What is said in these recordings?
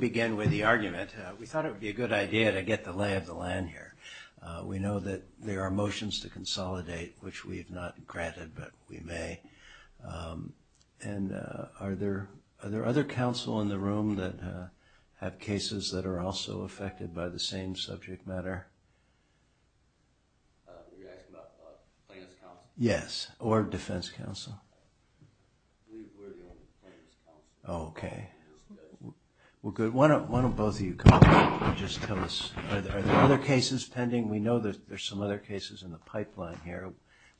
We thought it would be a good idea to get the lay of the land here. We know that there are motions to consolidate, which we have not granted, but we may. And are there other counsel in the room that have cases that are also affected by the same subject matter? You're asking about defense counsel? Yes, or defense counsel. I believe we're the only defense counsel. Okay. Well, good. Why don't both of you come up and just tell us. Are there other cases pending? We know that there's some other cases in the pipeline here.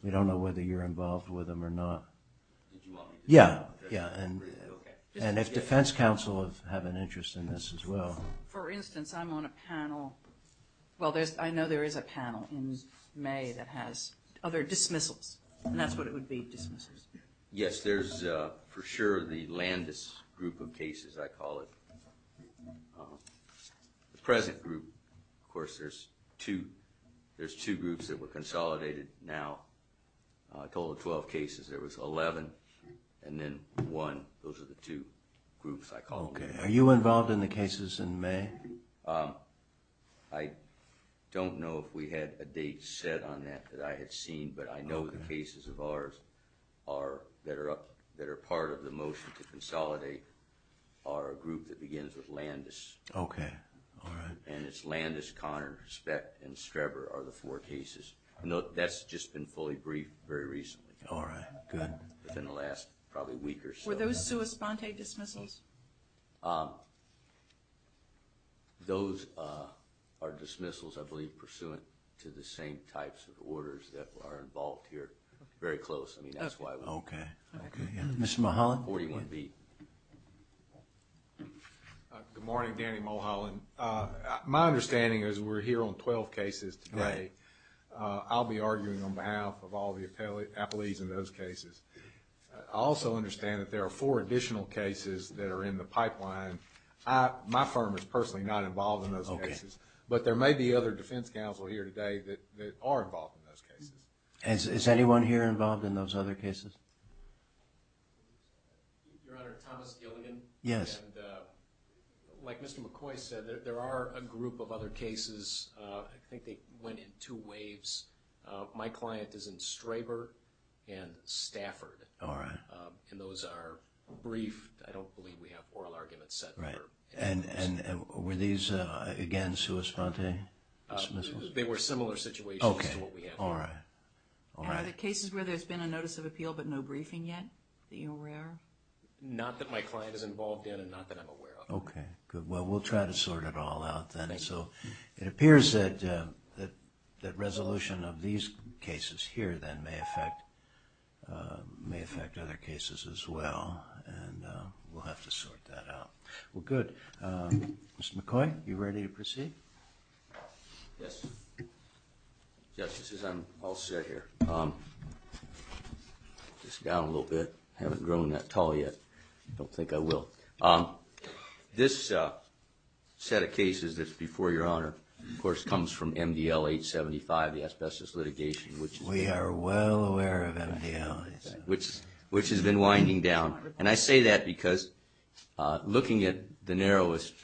We don't know whether you're involved with them or not. Yeah, yeah. And if defense counsel have an interest in this as well. For instance, I'm on a panel. Well, I know there is a panel in May that has other dismissals, and that's what it would be, dismissals. Yes, there's for sure the Landis group of cases, I call it. The present group, of course, there's two groups that were consolidated now. I told the 12 cases, there was 11, and then one. Those are the two groups I call them. Okay. Are you involved in the cases in May? I don't know if we had a date set on that that I had seen, but I know the cases of ours that are part of the motion to consolidate are a group that begins with Landis. Okay, all right. And it's Landis, Connor, Speck, and Streber are the four cases. That's just been fully briefed very recently. All right, good. Within the last probably week or so. Were those sua sponte dismissals? Those are dismissals, I believe, pursuant to the same types of orders that are involved here. Very close. I mean, that's why. Okay. Mr. Mulholland? 41B. Good morning, Danny Mulholland. My understanding is we're here on 12 cases today. I'll be arguing on behalf of all the appellees in those cases. I also understand that there are four additional cases that are in the pipeline. My firm is personally not involved in those cases, but there may be other defense counsel here today that are involved in those cases. Is anyone here involved in those other cases? Your Honor, Thomas Gilligan. Yes. And like Mr. McCoy said, there are a group of other cases. I think they went in two waves. My client is in Straber and Stafford. All right. And those are briefed. I don't believe we have oral arguments set for those. Right. And were these, again, sua sponte dismissals? They were similar situations to what we have here. Okay. All right. Are there cases where there's been a notice of appeal but no briefing yet that you're aware of? Not that my client is involved in and not that I'm aware of. Okay. Good. Well, we'll try to sort it all out then. Thank you. It appears that resolution of these cases here then may affect other cases as well, and we'll have to sort that out. Well, good. Mr. McCoy, you ready to proceed? Yes. Yes, this is all set here. Just down a little bit. I haven't grown that tall yet. I don't think I will. This set of cases that's before Your Honor, of course, comes from MDL 875, the asbestos litigation. We are well aware of MDL 875. Which has been winding down. And I say that because looking at the narrowest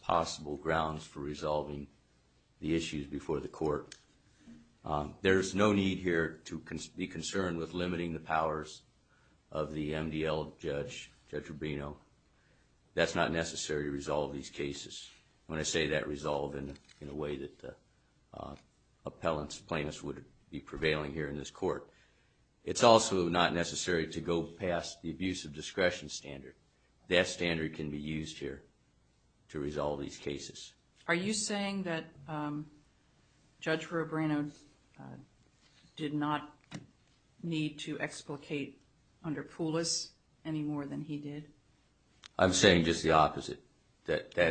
possible grounds for resolving the issues before the court, there's no need here to be concerned with limiting the powers of the MDL judge, Judge Rubino. That's not necessary to resolve these cases. When I say that, resolve in a way that appellants, plaintiffs would be prevailing here in this court. It's also not necessary to go past the abuse of discretion standard. That standard can be used here to resolve these cases. Are you saying that Judge Rubino did not need to explicate under Poulos any more than he did? I'm saying just the opposite.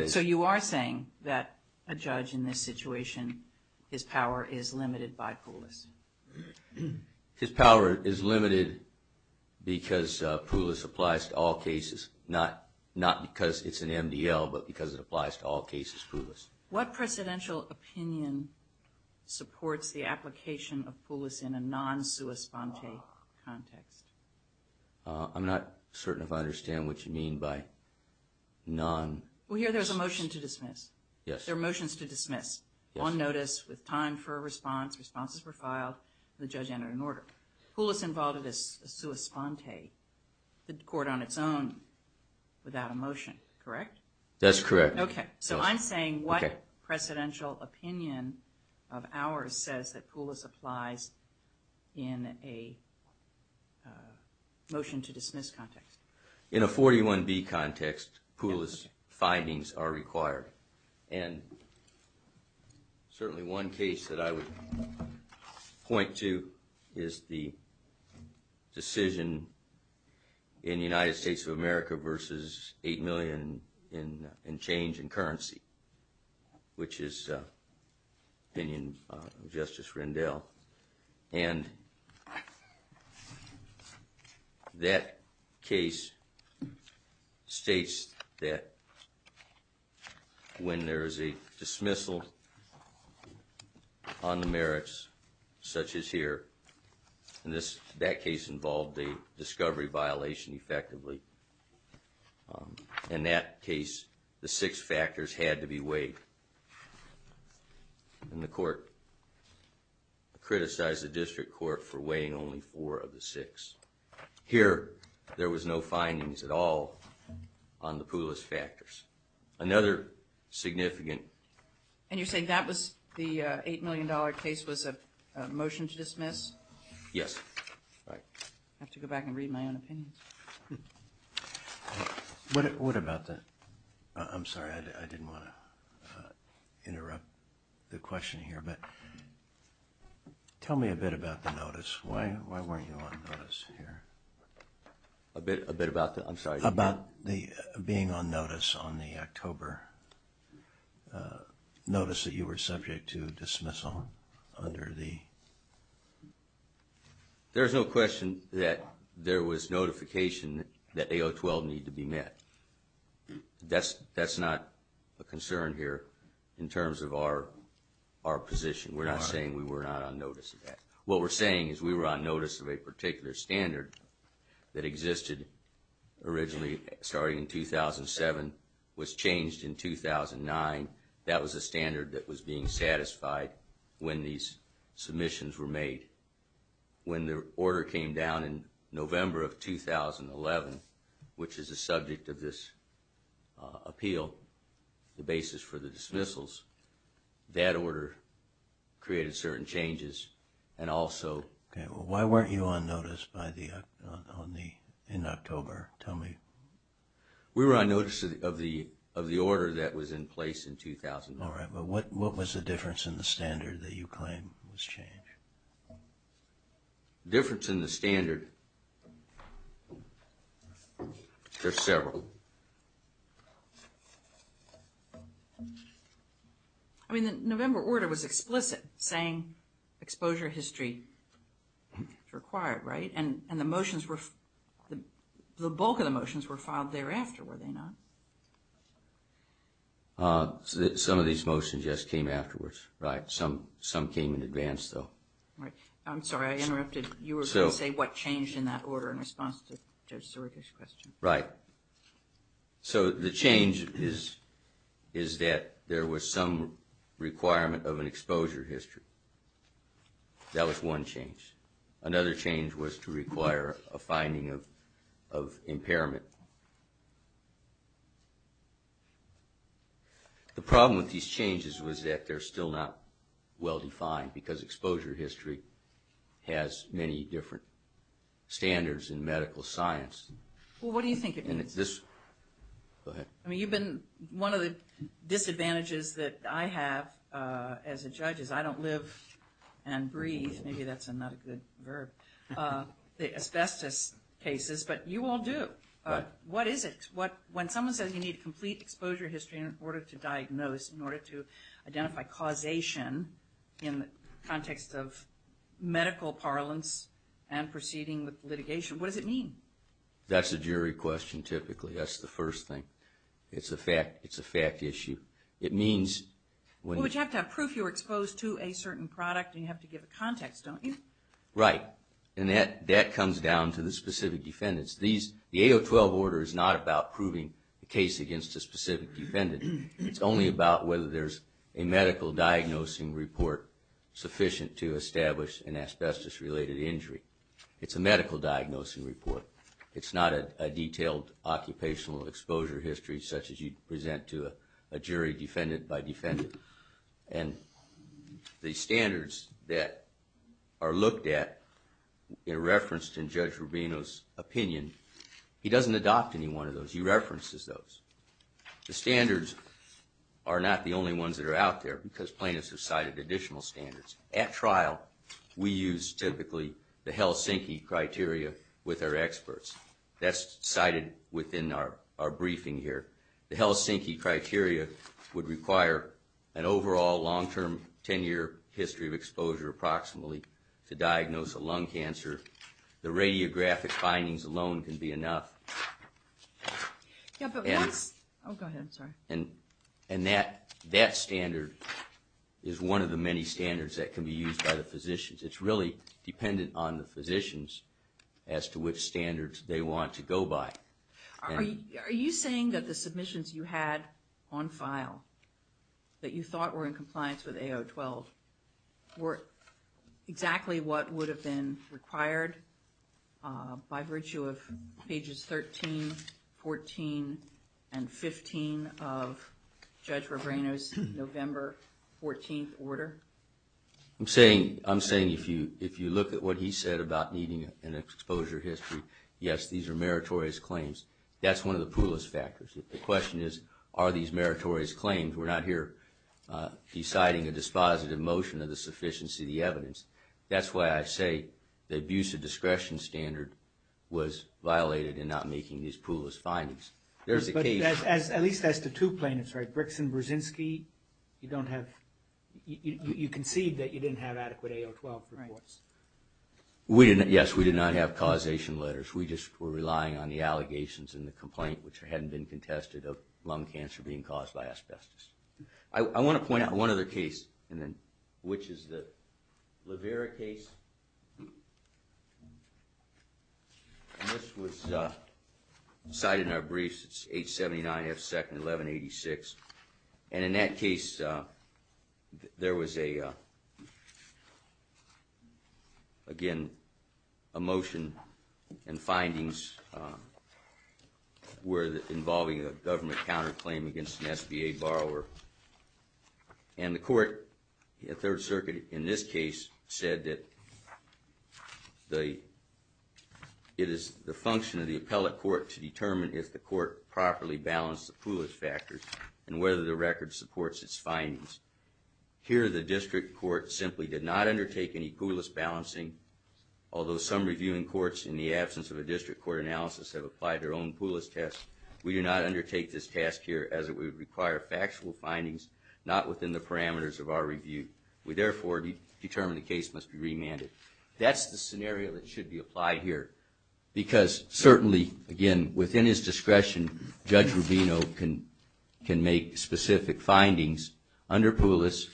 So you are saying that a judge in this situation, his power is limited by Poulos? His power is limited because Poulos applies to all cases. Not because it's an MDL, but because it applies to all cases, Poulos. What precedential opinion supports the application of Poulos in a non-sua sponte context? I'm not certain if I understand what you mean by non... Well, here there's a motion to dismiss. Yes. There are motions to dismiss. On notice, with time for a response, responses were filed, the judge entered an order. Poulos involved a sua sponte, the court on its own, without a motion, correct? That's correct. So I'm saying what precedential opinion of ours says that Poulos applies in a motion to dismiss context? In a 41B context, Poulos findings are required. And certainly one case that I would point to is the decision in the United States of America versus 8 million in change in currency, which is the opinion of Justice Rendell. And that case states that when there is a dismissal on the merits, such as here, and that case involved a discovery violation effectively, in that case the six factors had to be weighed. And the court criticized the district court for weighing only four of the six. Here there was no findings at all on the Poulos factors. Another significant... And you're saying that was the 8 million dollar case was a motion to dismiss? Yes. I have to go back and read my own opinions. What about the... I'm sorry, I didn't want to interrupt the question here, but tell me a bit about the notice. Why weren't you on notice here? A bit about the... I'm sorry. About being on notice on the October notice that you were subject to dismissal under the... There's no question that there was notification that A012 needed to be met. That's not a concern here in terms of our position. We're not saying we were not on notice of that. What we're saying is we were on notice of a particular standard that existed originally starting in 2007, was changed in 2009. That was a standard that was being satisfied when these submissions were made. When the order came down in November of 2011, which is the subject of this appeal, the basis for the dismissals, that order created certain changes and also... Why weren't you on notice in October? Tell me. We were on notice of the order that was in place in 2009. All right, but what was the difference in the standard that you claim was changed? The difference in the standard... There's several. I mean, the November order was explicit, saying exposure history is required, right? And the motions were... The bulk of the motions were filed thereafter, were they not? Some of these motions, yes, came afterwards. Some came in advance, though. I'm sorry, I interrupted. You were going to say what changed in that order in response to Judge Surikish's question. Right. So the change is that there was some requirement of an exposure history. That was one change. Another change was to require a finding of impairment. The problem with these changes was that they're still not well-defined because exposure history has many different standards in medical science. Well, what do you think it means? Go ahead. I mean, you've been... One of the disadvantages that I have as a judge is I don't live and breathe. Maybe that's not a good verb, the asbestos cases, but you all do. Right. What is it? When someone says you need a complete exposure history in order to diagnose, in order to identify causation in the context of medical parlance and proceeding with litigation, what does it mean? That's a jury question, typically. That's the first thing. It's a fact issue. It means... Well, but you have to have proof you were exposed to a certain product, and you have to give a context, don't you? Right. And that comes down to the specific defendants. The A012 order is not about proving the case against a specific defendant. It's only about whether there's a medical diagnosing report sufficient to establish an asbestos-related injury. It's a medical diagnosing report. It's not a detailed occupational exposure history such as you'd present to a jury defendant by defendant. And the standards that are looked at are referenced in Judge Rubino's opinion. He doesn't adopt any one of those. He references those. The standards are not the only ones that are out there because plaintiffs have cited additional standards. At trial, we use typically the Helsinki criteria with our experts. That's cited within our briefing here. The Helsinki criteria would require an overall long-term 10-year history of exposure, approximately, to diagnose a lung cancer. The radiographic findings alone can be enough. Yeah, but what's... Oh, go ahead. Sorry. And that standard is one of the many standards that can be used by the physicians. It's really dependent on the physicians as to which standards they want to go by. Are you saying that the submissions you had on file that you thought were in compliance with A012 were exactly what would have been required by virtue of pages 13, 14, and 15 of Judge Rubino's November 14th order? I'm saying if you look at what he said about needing an exposure history, yes, these are meritorious claims. That's one of the poorest factors. The question is, are these meritorious claims? We're not here deciding a dispositive motion of the sufficiency of the evidence. That's why I say the abuse of discretion standard was violated in not making these pool of findings. There's a case... At least as to two plaintiffs, right? Brix and Brzezinski, you don't have... You conceived that you didn't have adequate A012 reports. Yes, we did not have causation letters. We just were relying on the allegations and the complaint, which hadn't been contested of lung cancer being caused by asbestos. I want to point out one other case, which is the Levera case. This was cited in our briefs. It's 879 F. Second, 1186. In that case, there was, again, a motion and findings involving a government counterclaim against an SBA borrower. The court at Third Circuit in this case said that it is the function of the appellate court to determine if the court properly balanced the poolage factors and whether the record supports its findings. Here, the district court simply did not undertake any poolage balancing. Although some reviewing courts, in the absence of a district court analysis, have applied their own poolage test, we do not undertake this task here as it would require factual findings, not within the parameters of our review. We, therefore, determine the case must be remanded. That's the scenario that should be applied here. Because certainly, again, within his discretion, Judge Rubino can make specific findings under Poolis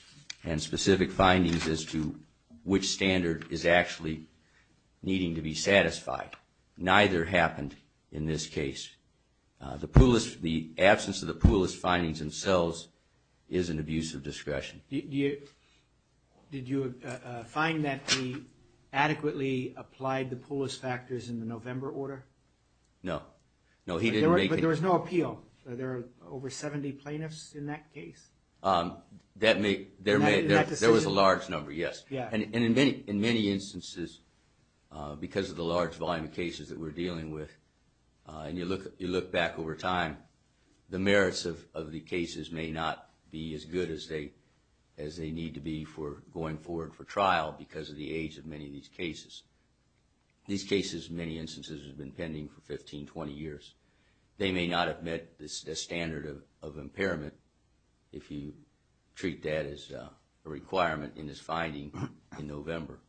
and specific findings as to which standard is actually needing to be satisfied. Neither happened in this case. The absence of the Poolis findings themselves is an abuse of discretion. Did you find that he adequately applied the Poolis factors in the November order? No. But there was no appeal? Are there over 70 plaintiffs in that case? There was a large number, yes. And in many instances, because of the large volume of cases that we're dealing with, and you look back over time, the merits of the cases may not be as good as they need to be for going forward for trial because of the age of many of these cases. These cases, in many instances, have been pending for 15, 20 years. They may not have met the standard of impairment if you treat that as a requirement in this finding in November.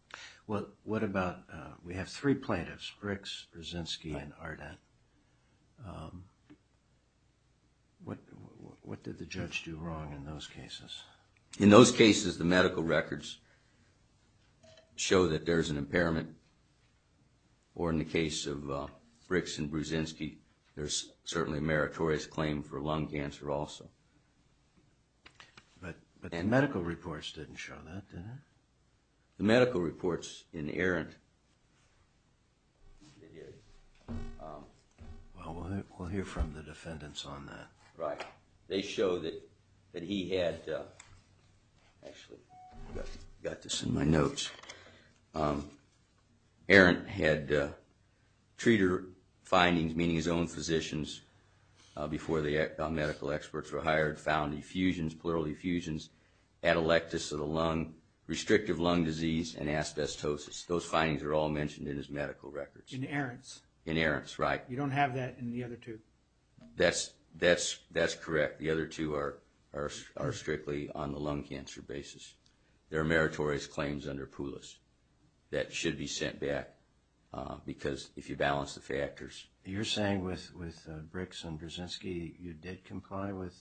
We have three plaintiffs, Bricks, Brzezinski, and Arden. What did the judge do wrong in those cases? In those cases, the medical records show that there's an impairment. Or in the case of Bricks and Brzezinski, there's certainly a meritorious claim for lung cancer also. But the medical reports didn't show that, did they? The medical reports in Arendt... Well, we'll hear from the defendants on that. Right. They show that he had... Actually, I've got this in my notes. Arendt had treater findings, meaning his own physicians, before the medical experts were hired, found effusions, pleural effusions, atelectasis of the lung, restrictive lung disease, and asbestosis. Those findings are all mentioned in his medical records. In Arendt's? In Arendt's, right. You don't have that in the other two? That's correct. The other two are strictly on the lung cancer basis. There are meritorious claims under Poulos that should be sent back because if you balance the factors... You're saying with Bricks and Brzezinski, you did comply with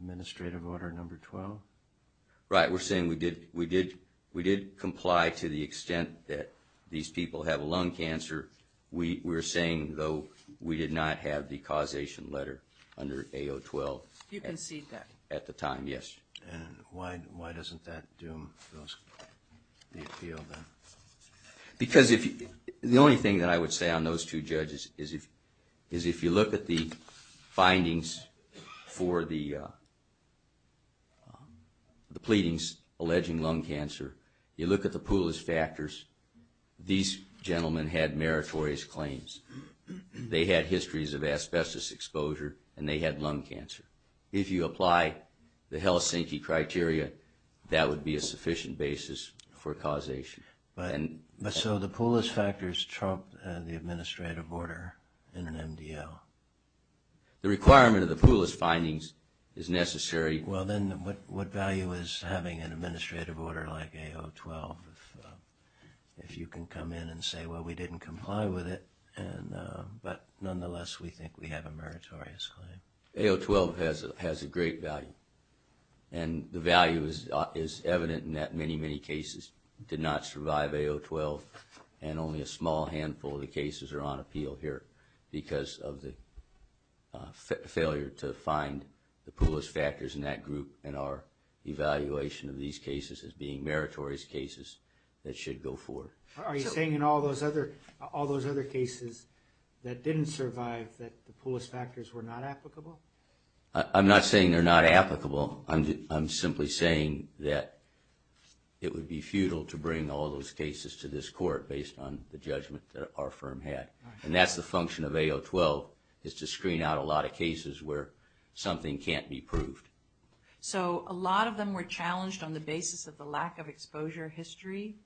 administrative order number 12? Right. We're saying we did comply to the extent that these people have lung cancer. We're saying, though, we did not have the causation letter under AO12. You concede that? At the time, yes. And why doesn't that doom the appeal then? The only thing that I would say on those two judges is if you look at the findings for the pleadings alleging lung cancer, you look at the Poulos factors, these gentlemen had meritorious claims. They had histories of asbestos exposure, and they had lung cancer. If you apply the Helsinki criteria, that would be a sufficient basis for causation. But so the Poulos factors trump the administrative order in an MDL? The requirement of the Poulos findings is necessary. Well, then what value is having an administrative order like AO12 if you can come in and say, well, we didn't comply with it, but nonetheless we think we have a meritorious claim? AO12 has a great value. And the value is evident in that many, many cases did not survive AO12, and only a small handful of the cases are on appeal here because of the failure to find the Poulos factors in that group and our evaluation of these cases as being meritorious cases that should go forward. Are you saying in all those other cases that didn't survive that the Poulos factors were not applicable? I'm not saying they're not applicable. I'm simply saying that it would be futile to bring all those cases to this court based on the judgment that our firm had. And that's the function of AO12 is to screen out a lot of cases where something can't be proved. So a lot of them were challenged on the basis of the lack of exposure history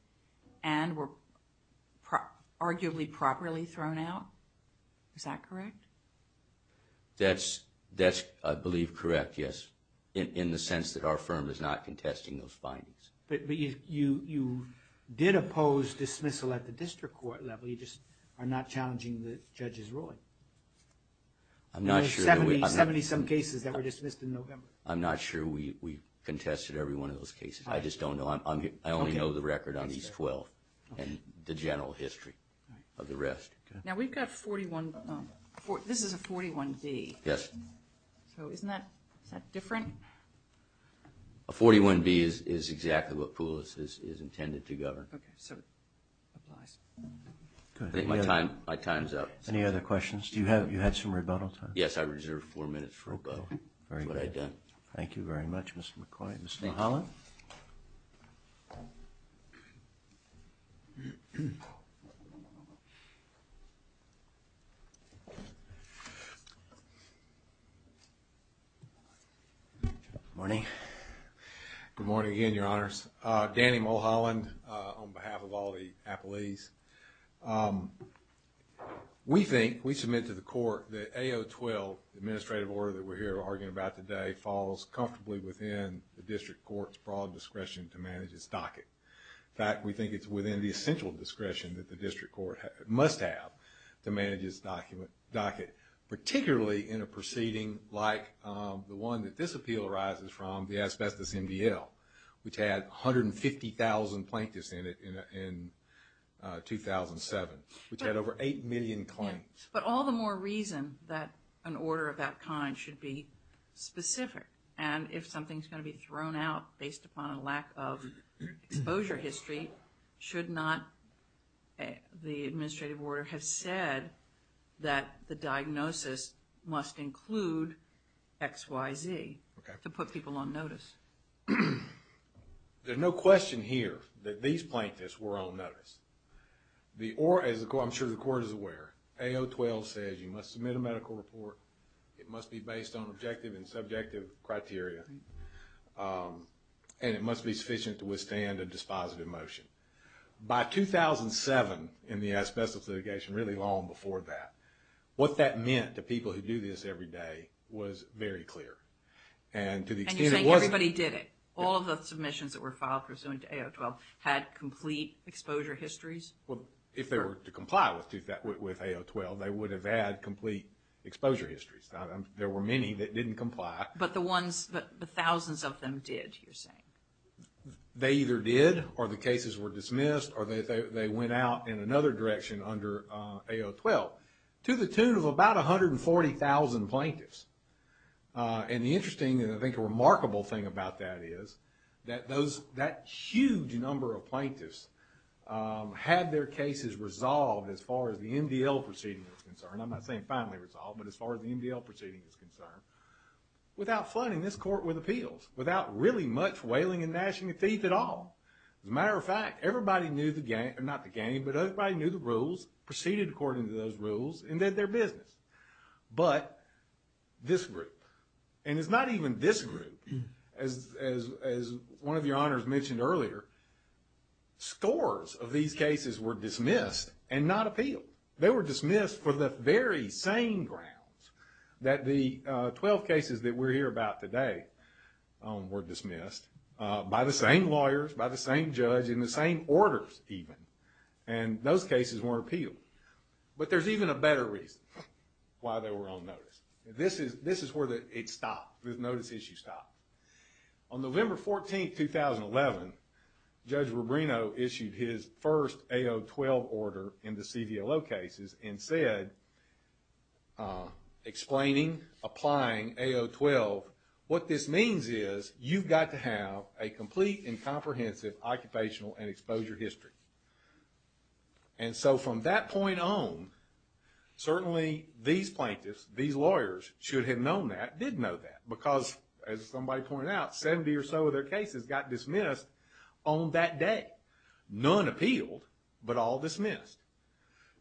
and were arguably properly thrown out. Is that correct? That's, I believe, correct, yes, in the sense that our firm is not contesting those findings. But you did oppose dismissal at the district court level. You just are not challenging the judge's ruling. There were 70-some cases that were dismissed in November. I'm not sure we contested every one of those cases. I just don't know. I only know the record on these 12 and the general history of the rest. Now, we've got 41. This is a 41B. Yes. So isn't that different? A 41B is exactly what Poulos is intended to govern. Okay, so it applies. My time's up. Any other questions? You had some rebuttal time? Yes, I reserved four minutes for rebuttal. Very good. That's what I've done. Thank you very much, Mr. McCoy. Thank you. Mr. Mulholland? Good morning. Good morning again, Your Honors. Danny Mulholland on behalf of all the appellees. We think, we submit to the court that AO 12, the administrative order that we're here arguing about today, falls comfortably within the district court's broad discretion to manage its docket. In fact, we think it's within the essential discretion that the district court must have to manage its docket, particularly in a proceeding like the one that this appeal arises from, the asbestos MDL, which had 150,000 plaintiffs in it in 2007, which had over 8 million claims. But all the more reason that an order of that kind should be specific. And if something's going to be thrown out based upon a lack of exposure history, should not the administrative order have said that the diagnosis must include XYZ to put people on notice? There's no question here that these plaintiffs were on notice. I'm sure the court is aware. AO 12 says you must submit a medical report, it must be based on objective and subjective criteria, and it must be sufficient to withstand a dispositive motion. By 2007, in the asbestos litigation, really long before that, what that meant to people who do this every day was very clear. And you're saying everybody did it? All of the submissions that were filed pursuant to AO 12 had complete exposure histories? If they were to comply with AO 12, they would have had complete exposure histories. There were many that didn't comply. But the thousands of them did, you're saying? They either did or the cases were dismissed or they went out in another direction under AO 12, to the tune of about 140,000 plaintiffs. And the interesting and I think remarkable thing about that is that that huge number of plaintiffs had their cases resolved as far as the MDL proceeding was concerned, I'm not saying finally resolved, but as far as the MDL proceeding was concerned, without flooding this court with appeals, without really much wailing and gnashing of teeth at all. As a matter of fact, everybody knew the rules, proceeded according to those rules, and did their business. But this group, and it's not even this group, as one of your honors mentioned earlier, scores of these cases were dismissed and not appealed. They were dismissed for the very same grounds that the 12 cases that we're here about today were dismissed, by the same lawyers, by the same judge, and the same orders even. And those cases weren't appealed. But there's even a better reason why they were on notice. This is where it stopped. This notice issue stopped. On November 14, 2011, Judge Rubino issued his first AO 12 order in the CDLO cases and said, explaining, applying AO 12, what this means is you've got to have a complete and comprehensive occupational and exposure history. And so from that point on, certainly these plaintiffs, these lawyers, should have known that, did know that. Because, as somebody pointed out, 70 or so of their cases got dismissed on that day. None appealed, but all dismissed.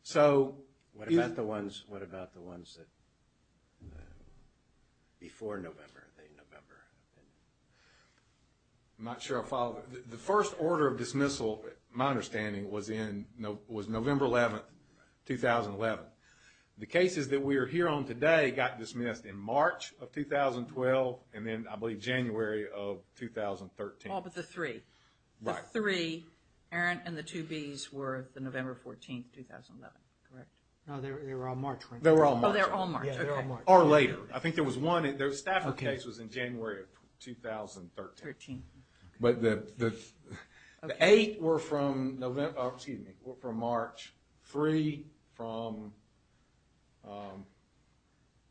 So... What about the ones before November? I'm not sure I follow. The first order of dismissal, my understanding, was November 11, 2011. The cases that we're here on today got dismissed in March of 2012 and then, I believe, January of 2013. Oh, but the three. The three. Aaron and the two Bs were the November 14, 2011. Correct. No, they were all March, right? They were all March. Oh, they were all March. Or later. I think there was one. The Stafford case was in January of 2013. But the eight were from March. Three from...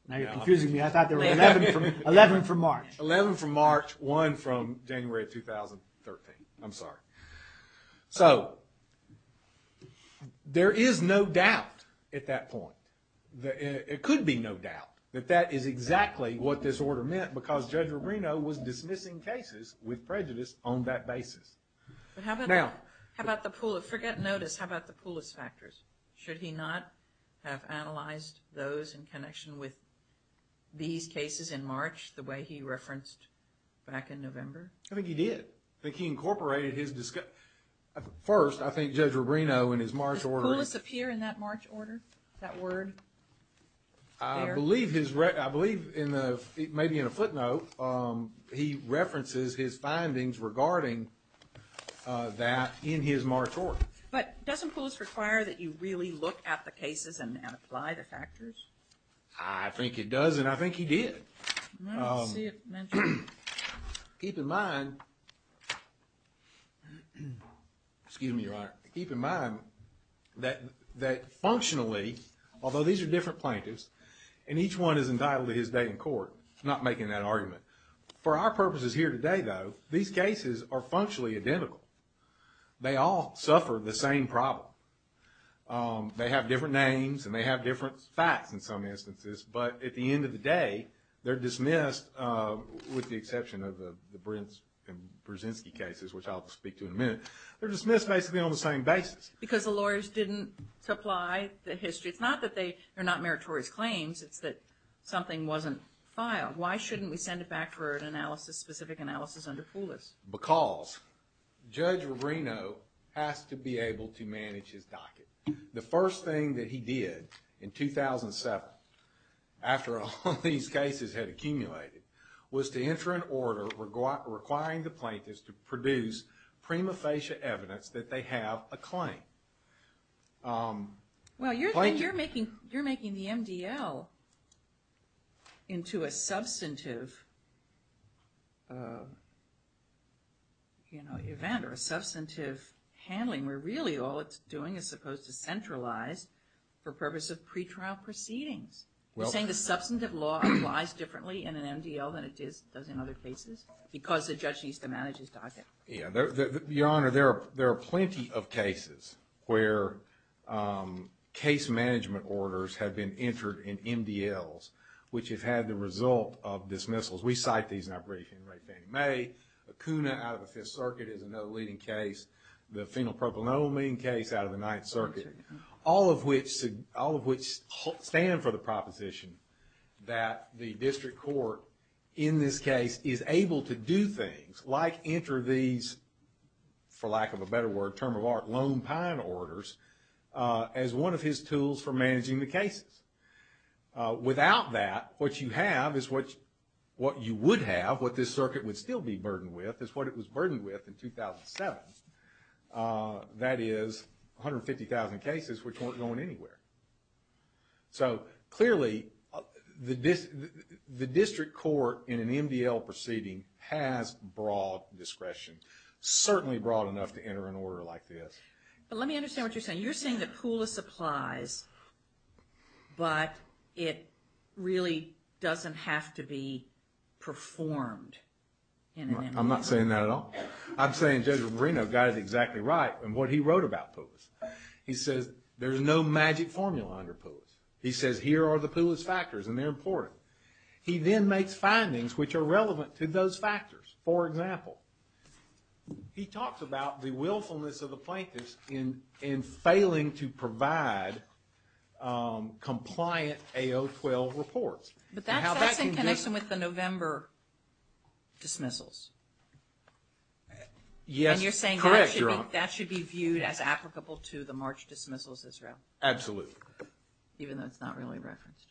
Now you're confusing me. I thought they were 11 from March. 11 from March. One from January of 2013. I'm sorry. So, there is no doubt at that point. It could be no doubt that that is exactly what this order meant because Judge Rubino was dismissing cases with prejudice on that basis. But how about the... Now... How about the... Forget notice. How about the Pulis factors? Should he not have analyzed those in connection with these cases in March the way he referenced back in November? I think he did. I think he incorporated his... First, I think Judge Rubino in his March order... Does Pulis appear in that March order? That word? I believe in the... Maybe in a footnote, he references his findings regarding that in his March order. But doesn't Pulis require that you really look at the cases and apply the factors? I think it does, and I think he did. I don't see it mentioned. Keep in mind... Excuse me, Your Honor. Keep in mind that functionally, although these are different plaintiffs, and each one is entitled to his day in court. I'm not making that argument. For our purposes here today, though, these cases are functionally identical. They all suffer the same problem. They have different names, and they have different facts in some instances, but at the end of the day, they're dismissed, with the exception of the Brins and Brzezinski cases, which I'll speak to in a minute. They're dismissed basically on the same basis. Because the lawyers didn't supply the history. It's not that they're not meritorious claims. It's that something wasn't filed. Why shouldn't we send it back for an analysis, specific analysis under Pulis? Because Judge Rubino has to be able to manage his docket. The first thing that he did in 2007, after all these cases had accumulated, was to enter an order requiring the plaintiffs to produce prima facie evidence that they have a claim. Well, you're making the MDL into a substantive event, or a substantive handling, where really all it's doing is supposed to centralize for purpose of pretrial proceedings. You're saying the substantive law applies differently in an MDL than it does in other cases? Because the judge needs to manage his docket. Yeah. Your Honor, there are plenty of cases where case management orders have been entered in MDLs, which have had the result of dismissals. We cite these in our briefing. Ray Fannie Mae, Acuna out of the Fifth Circuit is another leading case. The phenylpropanolamine case out of the Ninth Circuit. All of which stand for the proposition that the district court in this case is able to do things like enter these, for lack of a better word, term of art, lone pine orders as one of his tools for managing the cases. Without that, what you have is what you would have, what this circuit would still be burdened with, is what it was burdened with in 2007. That is 150,000 cases which weren't going anywhere. So clearly, the district court in an MDL proceeding has broad discretion. Certainly broad enough to enter an order like this. Let me understand what you're saying. You're saying the pool of supplies, but it really doesn't have to be performed in an MDL. I'm not saying that at all. I'm saying Judge Moreno got it exactly right in what he wrote about PULIS. He says there's no magic formula under PULIS. He says here are the PULIS factors and they're important. He then makes findings which are relevant to those factors. For example, he talks about the willfulness of the plaintiffs in failing to provide compliant AO12 reports. But that's in connection with the November dismissals. Yes, correct, Your Honor. And you're saying that should be viewed as applicable to the March dismissals as well? Absolutely. Even though it's not really referenced.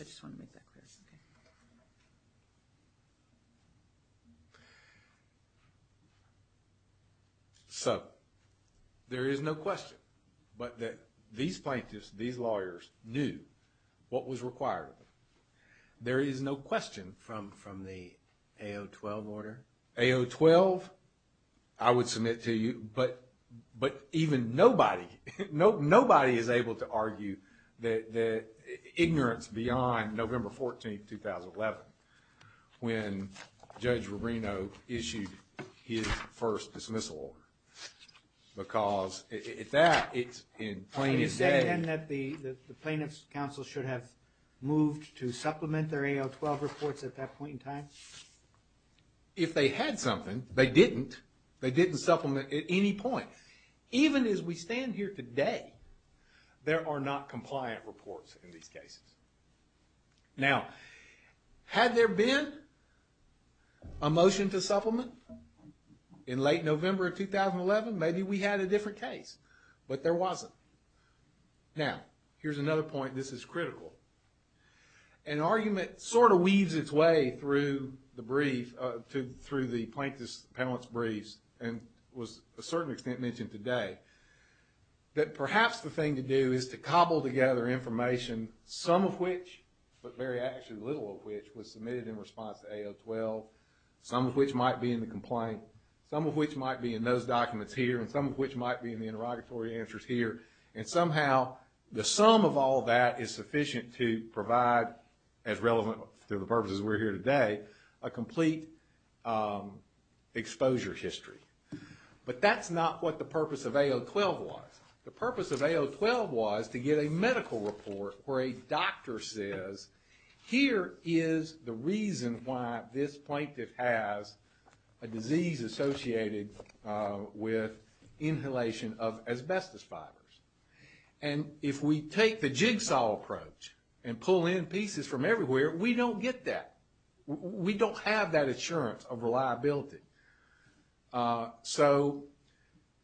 I just want to make that clear. So there is no question, but that these plaintiffs, these lawyers, knew what was required of them. There is no question. From the AO12 order? AO12? I would submit to you, but even nobody, nobody is able to argue the ignorance beyond November 14, 2011 when Judge Moreno issued his first dismissal order. Because at that, it's in plainest day. You're saying then that the plaintiffs' counsel should have moved to supplement their AO12 reports at that point in time? If they had something, they didn't. They didn't supplement at any point. Even as we stand here today, there are not compliant reports in these cases. Now, had there been a motion to supplement in late November of 2011, maybe we had a different case. But there wasn't. Now, here's another point. This is critical. An argument sort of weaves its way through the brief, through the plaintiff's, the appellant's briefs, and was to a certain extent mentioned today, that perhaps the thing to do is to cobble together information, some of which, but very actually little of which, was submitted in response to AO12, some of which might be in the complaint, some of which might be in those documents here, and some of which might be in the interrogatory answers here. And somehow the sum of all that is sufficient to provide, as relevant to the purposes we're here today, a complete exposure history. But that's not what the purpose of AO12 was. The purpose of AO12 was to get a medical report where a doctor says, here is the reason why this plaintiff has a disease associated with inhalation of asbestos fibers. And if we take the jigsaw approach and pull in pieces from everywhere, we don't get that. We don't have that assurance of reliability. So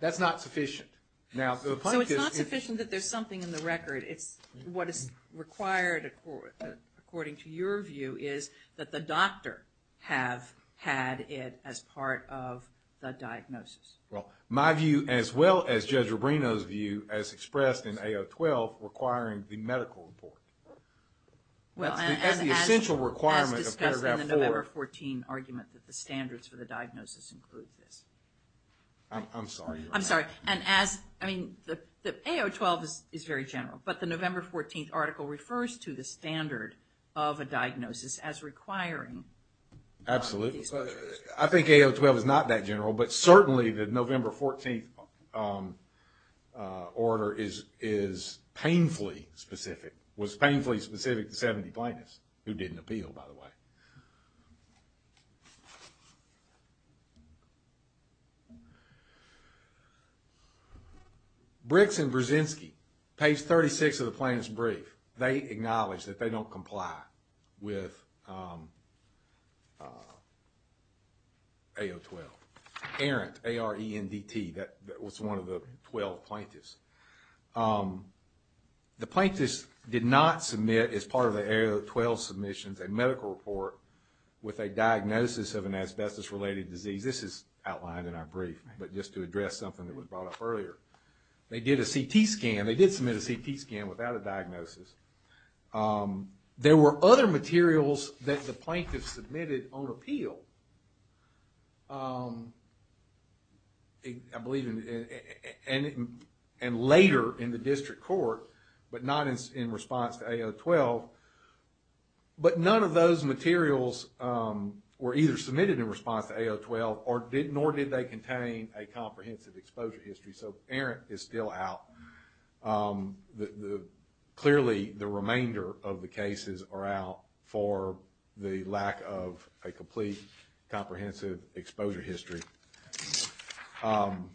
that's not sufficient. So it's not sufficient that there's something in the record. It's what is required, according to your view, is that the doctor have had it as part of the diagnosis. Well, my view, as well as Judge Rubino's view, as expressed in AO12, requiring the medical report. That's the essential requirement of paragraph 4. As discussed in the November 14 argument that the standards for the diagnosis include this. I'm sorry. I'm sorry. And as, I mean, AO12 is very general. But the November 14 article refers to the standard of a diagnosis as requiring one of these measures. Absolutely. I think AO12 is not that general, but certainly the November 14 order is painfully specific. It was painfully specific to 70 plaintiffs, who didn't appeal, by the way. Bricks and Brzezinski, page 36 of the plaintiff's brief, they acknowledge that they don't comply with AO12. Arendt, A-R-E-N-D-T, that was one of the 12 plaintiffs. The plaintiffs did not submit, as part of the AO12 submissions, a medical report with a diagnosis of an asbestos-related disease. This is outlined in our brief, but just to address something that was brought up earlier. They did a CT scan. They did submit a CT scan without a diagnosis. There were other materials that the plaintiffs submitted on appeal, I believe, and later in the district court, but not in response to AO12. But none of those materials were either submitted in response to AO12, nor did they contain a comprehensive exposure history. So Arendt is still out. Clearly, the remainder of the cases are out for the lack of a complete, comprehensive exposure history. And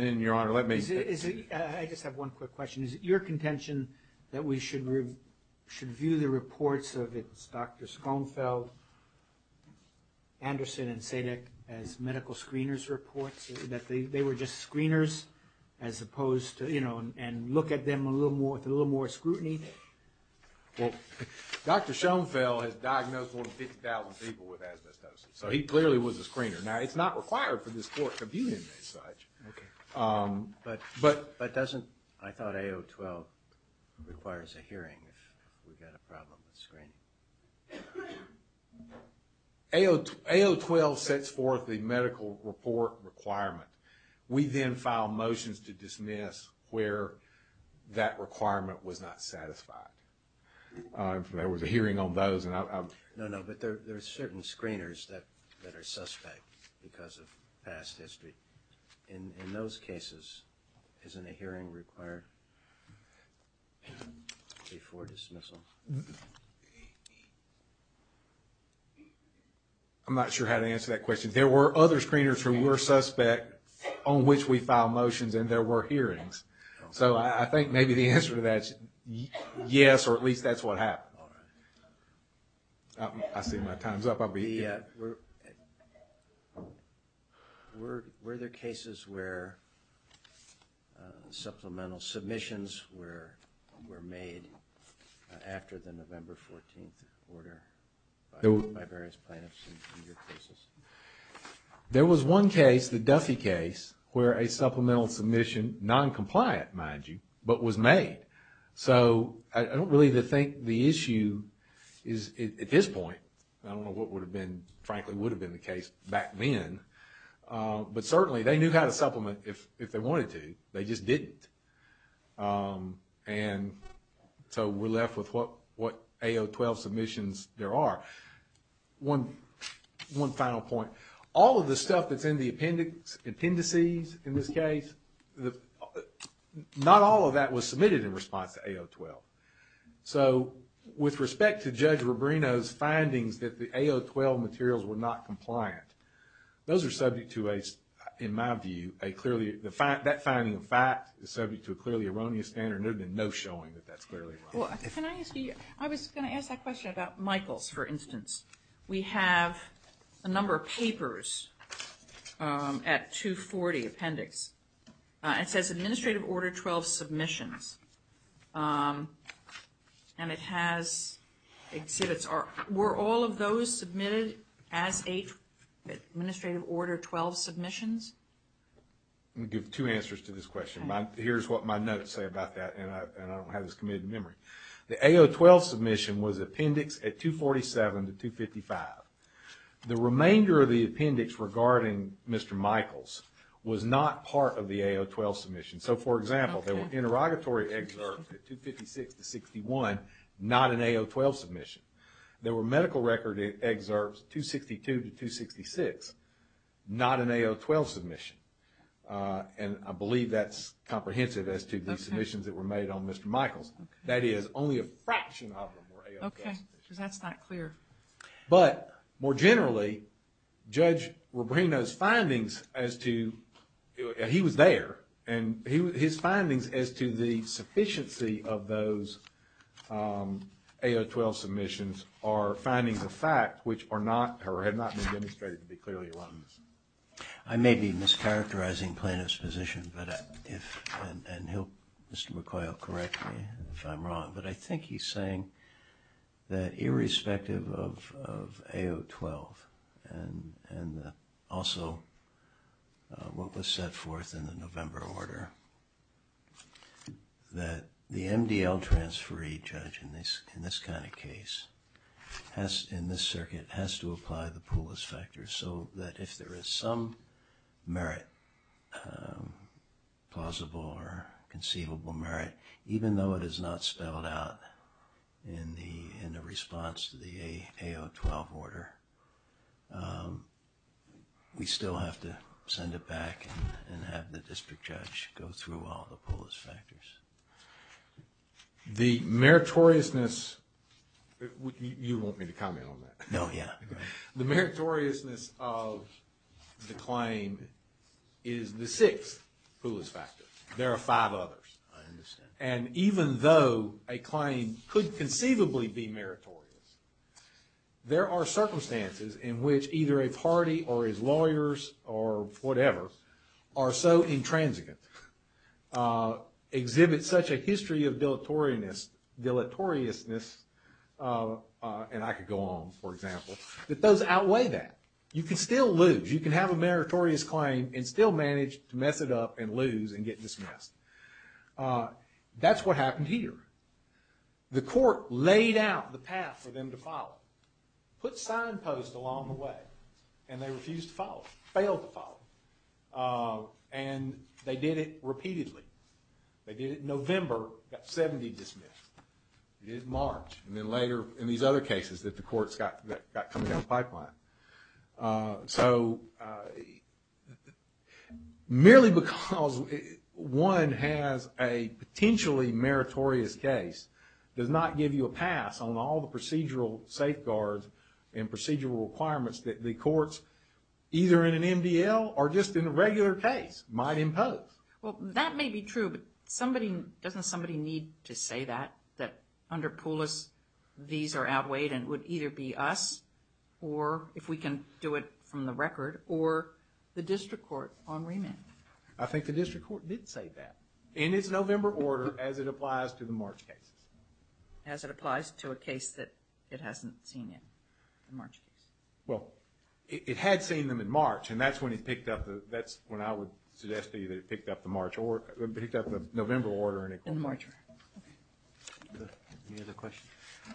then, Your Honor, let me… I just have one quick question. Is it your contention that we should view the reports of Dr. Schoenfeld, Anderson, and Sadek as medical screeners' reports, that they were just screeners as opposed to, you know, and look at them with a little more scrutiny? Well, Dr. Schoenfeld has diagnosed more than 50,000 people with asbestosis, so he clearly was a screener. Now, it's not required for this court to view him as such. Okay. But doesn't… AO12 requires a hearing if we've got a problem with screening. AO12 sets forth the medical report requirement. We then file motions to dismiss where that requirement was not satisfied. There was a hearing on those, and I… No, no, but there are certain screeners that are suspect because of past history. In those cases, isn't a hearing required before dismissal? I'm not sure how to answer that question. There were other screeners who were suspect on which we filed motions, and there were hearings. So I think maybe the answer to that is yes, or at least that's what happened. I see my time's up. Were there cases where supplemental submissions were made after the November 14th order by various plaintiffs in your cases? There was one case, the Duffy case, where a supplemental submission, non-compliant, mind you, but was made. So I don't really think the issue is at this point. I don't know what frankly would have been the case back then, but certainly they knew how to supplement if they wanted to. They just didn't. And so we're left with what AO12 submissions there are. One final point. All of the stuff that's in the appendices in this case, not all of that was submitted in response to AO12. So with respect to Judge Rubino's findings that the AO12 materials were not compliant, those are subject to, in my view, that finding of fact is subject to a clearly erroneous standard. There's been no showing that that's clearly erroneous. I was going to ask that question about Michaels, for instance. We have a number of papers at 240 Appendix. It says Administrative Order 12 submissions. And it has exhibits. Were all of those submitted as Administrative Order 12 submissions? Let me give two answers to this question. Here's what my notes say about that, and I don't have this committed to memory. The AO12 submission was appendix at 247 to 255. The remainder of the appendix regarding Mr. Michaels was not part of the AO12 submission. So, for example, there were interrogatory excerpts at 256 to 61, not an AO12 submission. There were medical record excerpts 262 to 266, not an AO12 submission. And I believe that's comprehensive as to the submissions that were made on Mr. Michaels. That is, only a fraction of them were AO12 submissions. Okay, because that's not clear. But, more generally, Judge Rubino's findings as to, he was there, and his findings as to the sufficiency of those AO12 submissions are findings of fact, which are not, or have not been demonstrated to be clearly erroneous. I may be mischaracterizing plaintiff's position, and Mr. McCoy will correct me if I'm wrong. But I think he's saying that irrespective of AO12, and also what was set forth in the November order, that the MDL transferee judge in this kind of case, in this circuit, has to apply the Poolis factor so that if there is some merit, plausible or conceivable merit, even though it is not spelled out in the response to the AO12 order, we still have to send it back and have the district judge go through all the Poolis factors. The meritoriousness, you want me to comment on that? No, yeah. The meritoriousness of the claim is the sixth Poolis factor. There are five others. I understand. And even though a claim could conceivably be meritorious, there are circumstances in which either a party or his lawyers or whatever are so intransigent, exhibit such a history of deleteriousness, and I could go on, for example, that those outweigh that. You can still lose. You can have a meritorious claim and still manage to mess it up and lose and get dismissed. That's what happened here. The court laid out the path for them to follow, put signposts along the way, and they refused to follow, failed to follow, and they did it repeatedly. They did it in November, got 70 dismissed. They did it in March, and then later in these other cases that the courts got coming down the pipeline. So merely because one has a potentially meritorious case does not give you a pass on all the procedural safeguards and procedural requirements that the courts, either in an MDL or just in a regular case, might impose. Well, that may be true, but doesn't somebody need to say that, that under Pulis these are outweighed and it would either be us or, if we can do it from the record, or the district court on remand? I think the district court did say that. In its November order, as it applies to the March cases. As it applies to a case that it hasn't seen in the March cases. Well, it had seen them in March, and that's when I would suggest to you that it picked up the November order. Any other questions?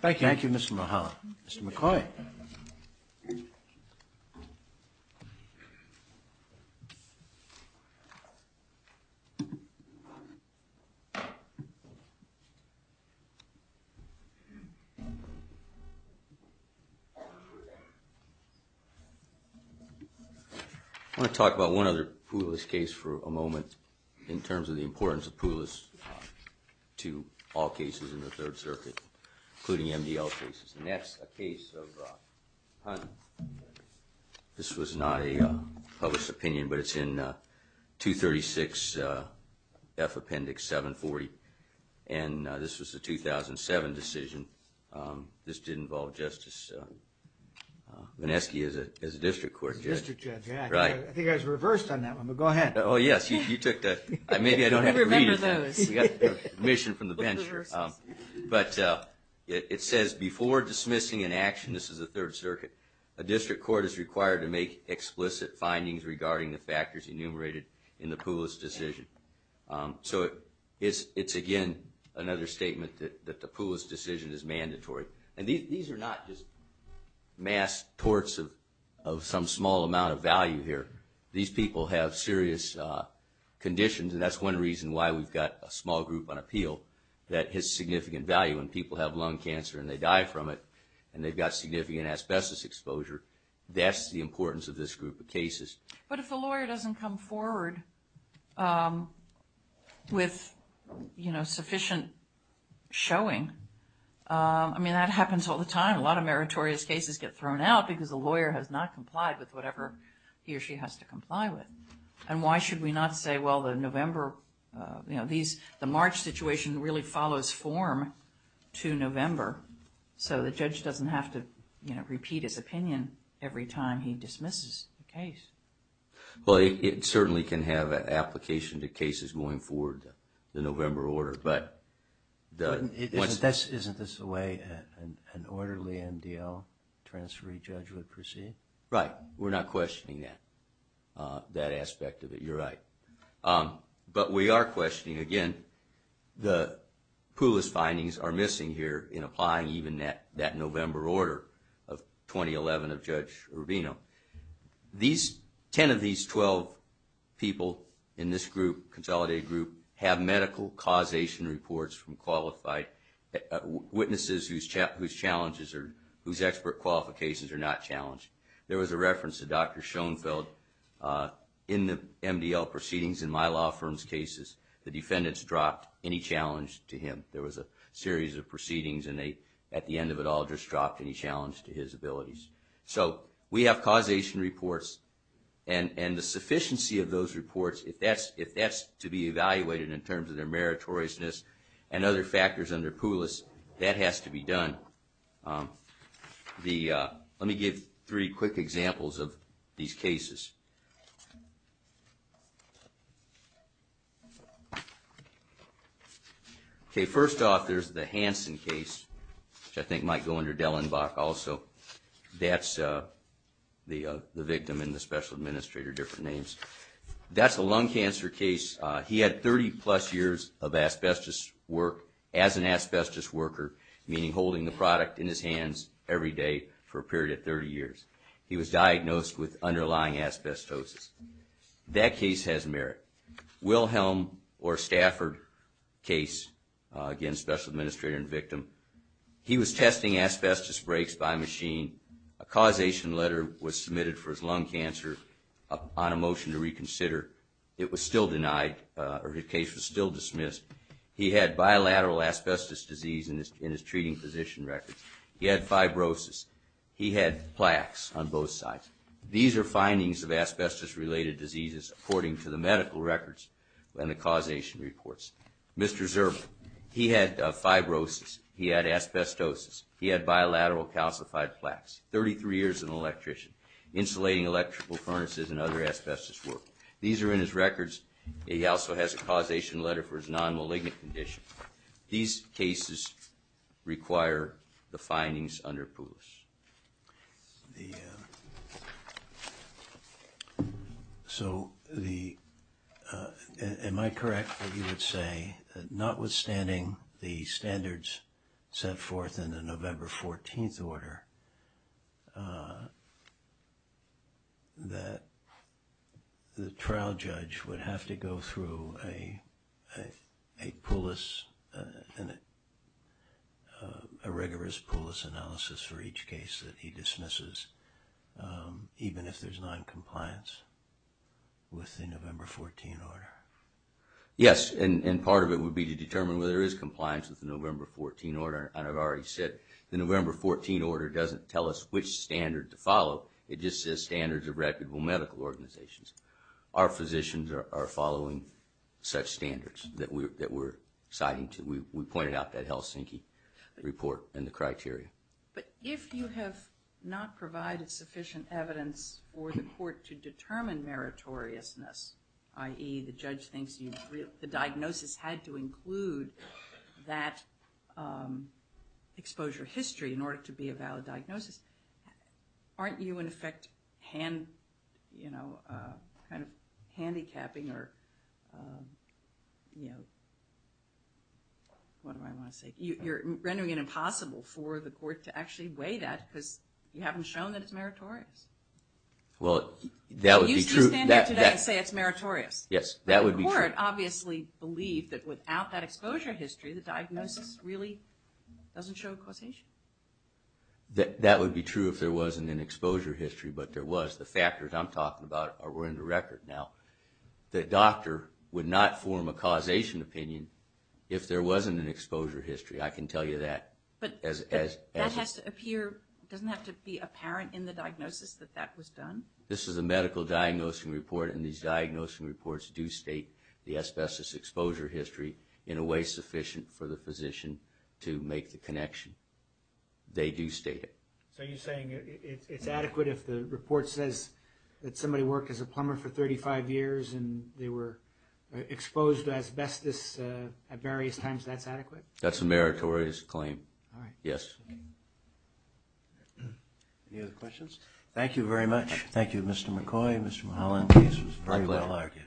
Thank you. Thank you, Mr. Mulholland. Mr. McCoy. I want to talk about one other Pulis case for a moment in terms of the importance of Pulis to all cases in the Third Circuit, including MDL cases. And that's a case of Hunt. This was not a published opinion, but it's in 236F Appendix 740. And this was a 2007 decision. This did involve Justice Vineski as a district court judge. District judge, yeah. Right. I think I was reversed on that one, but go ahead. Oh, yes. You took that. Maybe I don't have to read it. Remember those. We got permission from the bench. But it says, before dismissing an action, this is the Third Circuit, a district court is required to make explicit findings regarding the factors enumerated in the Pulis decision. So it's, again, another statement that the Pulis decision is mandatory. And these are not just mass torts of some small amount of value here. These people have serious conditions, and that's one reason why we've got a small group on appeal that has significant value. When people have lung cancer and they die from it and they've got significant asbestos exposure, that's the importance of this group of cases. But if the lawyer doesn't come forward with sufficient showing, I mean, that happens all the time. A lot of meritorious cases get thrown out because the lawyer has not complied with whatever he or she has to comply with. And why should we not say, well, the November, you know, the March situation really follows form to November, so the judge doesn't have to repeat his opinion every time he dismisses the case. Well, it certainly can have an application to cases going forward to the November order. Isn't this the way an orderly MDL transferee judge would proceed? Right. We're not questioning that aspect of it. You're right. But we are questioning, again, the poolist findings are missing here in applying even that November order of 2011 of Judge Urvino. Ten of these 12 people in this group, consolidated group, have medical causation reports from qualified witnesses whose challenges or whose expert qualifications are not challenged. There was a reference to Dr. Schoenfeld in the MDL proceedings in my law firm's cases. The defendants dropped any challenge to him. There was a series of proceedings and they, at the end of it all, just dropped any challenge to his abilities. So we have causation reports, and the sufficiency of those reports, if that's to be evaluated in terms of their meritoriousness and other factors under poolist, that has to be done. Let me give three quick examples of these cases. First off, there's the Hansen case, which I think might go under Dellenbach also. That's the victim and the special administrator, different names. That's a lung cancer case. He had 30-plus years of asbestos work as an asbestos worker, meaning holding the product in his hands every day for a period of 30 years. He was diagnosed with underlying asbestosis. That case has merit. Wilhelm or Stafford case, again, special administrator and victim, he was testing asbestos breaks by machine. A causation letter was submitted for his lung cancer on a motion to reconsider. It was still denied, or the case was still dismissed. He had bilateral asbestos disease in his treating physician records. He had fibrosis. He had plaques on both sides. These are findings of asbestos-related diseases, according to the medical records and the causation reports. Mr. Zerbel, he had fibrosis. He had asbestosis. He had bilateral calcified plaques. 33 years as an electrician, insulating electrical furnaces and other asbestos work. These are in his records. He also has a causation letter for his nonmalignant condition. These cases require the findings under Poulos. Am I correct that you would say, notwithstanding the standards set forth in the November 14th order, that the trial judge would have to go through a Poulos, a rigorous Poulos analysis for each case that he dismisses, even if there's noncompliance with the November 14th order? Yes, and part of it would be to determine whether there is compliance with the November 14th order, and I've already said the November 14th order doesn't tell us which standard to follow. It just says standards of reputable medical organizations. Our physicians are following such standards that we're citing. We pointed out that Helsinki report and the criteria. But if you have not provided sufficient evidence for the court to determine meritoriousness, i.e. the judge thinks the diagnosis had to include that exposure history in order to be a valid diagnosis, aren't you in effect, you know, kind of handicapping or, what do I want to say? You're rendering it impossible for the court to actually weigh that because you haven't shown that it's meritorious. Well, that would be true. They used to stand up today and say it's meritorious. Yes, that would be true. But the court obviously believed that without that exposure history, the diagnosis really doesn't show causation. That would be true if there wasn't an exposure history, but there was. The factors I'm talking about are in the record now. The doctor would not form a causation opinion if there wasn't an exposure history. I can tell you that. But that has to appear, doesn't have to be apparent in the diagnosis that that was done? This is a medical diagnosing report, and these diagnosing reports do state the asbestos exposure history in a way sufficient for the physician to make the connection. They do state it. So you're saying it's adequate if the report says that somebody worked as a plumber for 35 years and they were exposed to asbestos at various times? That's adequate? That's a meritorious claim. All right. Yes. Any other questions? Thank you very much. Thank you, Mr. McCoy, Mr. Mulholland. This was very well argued.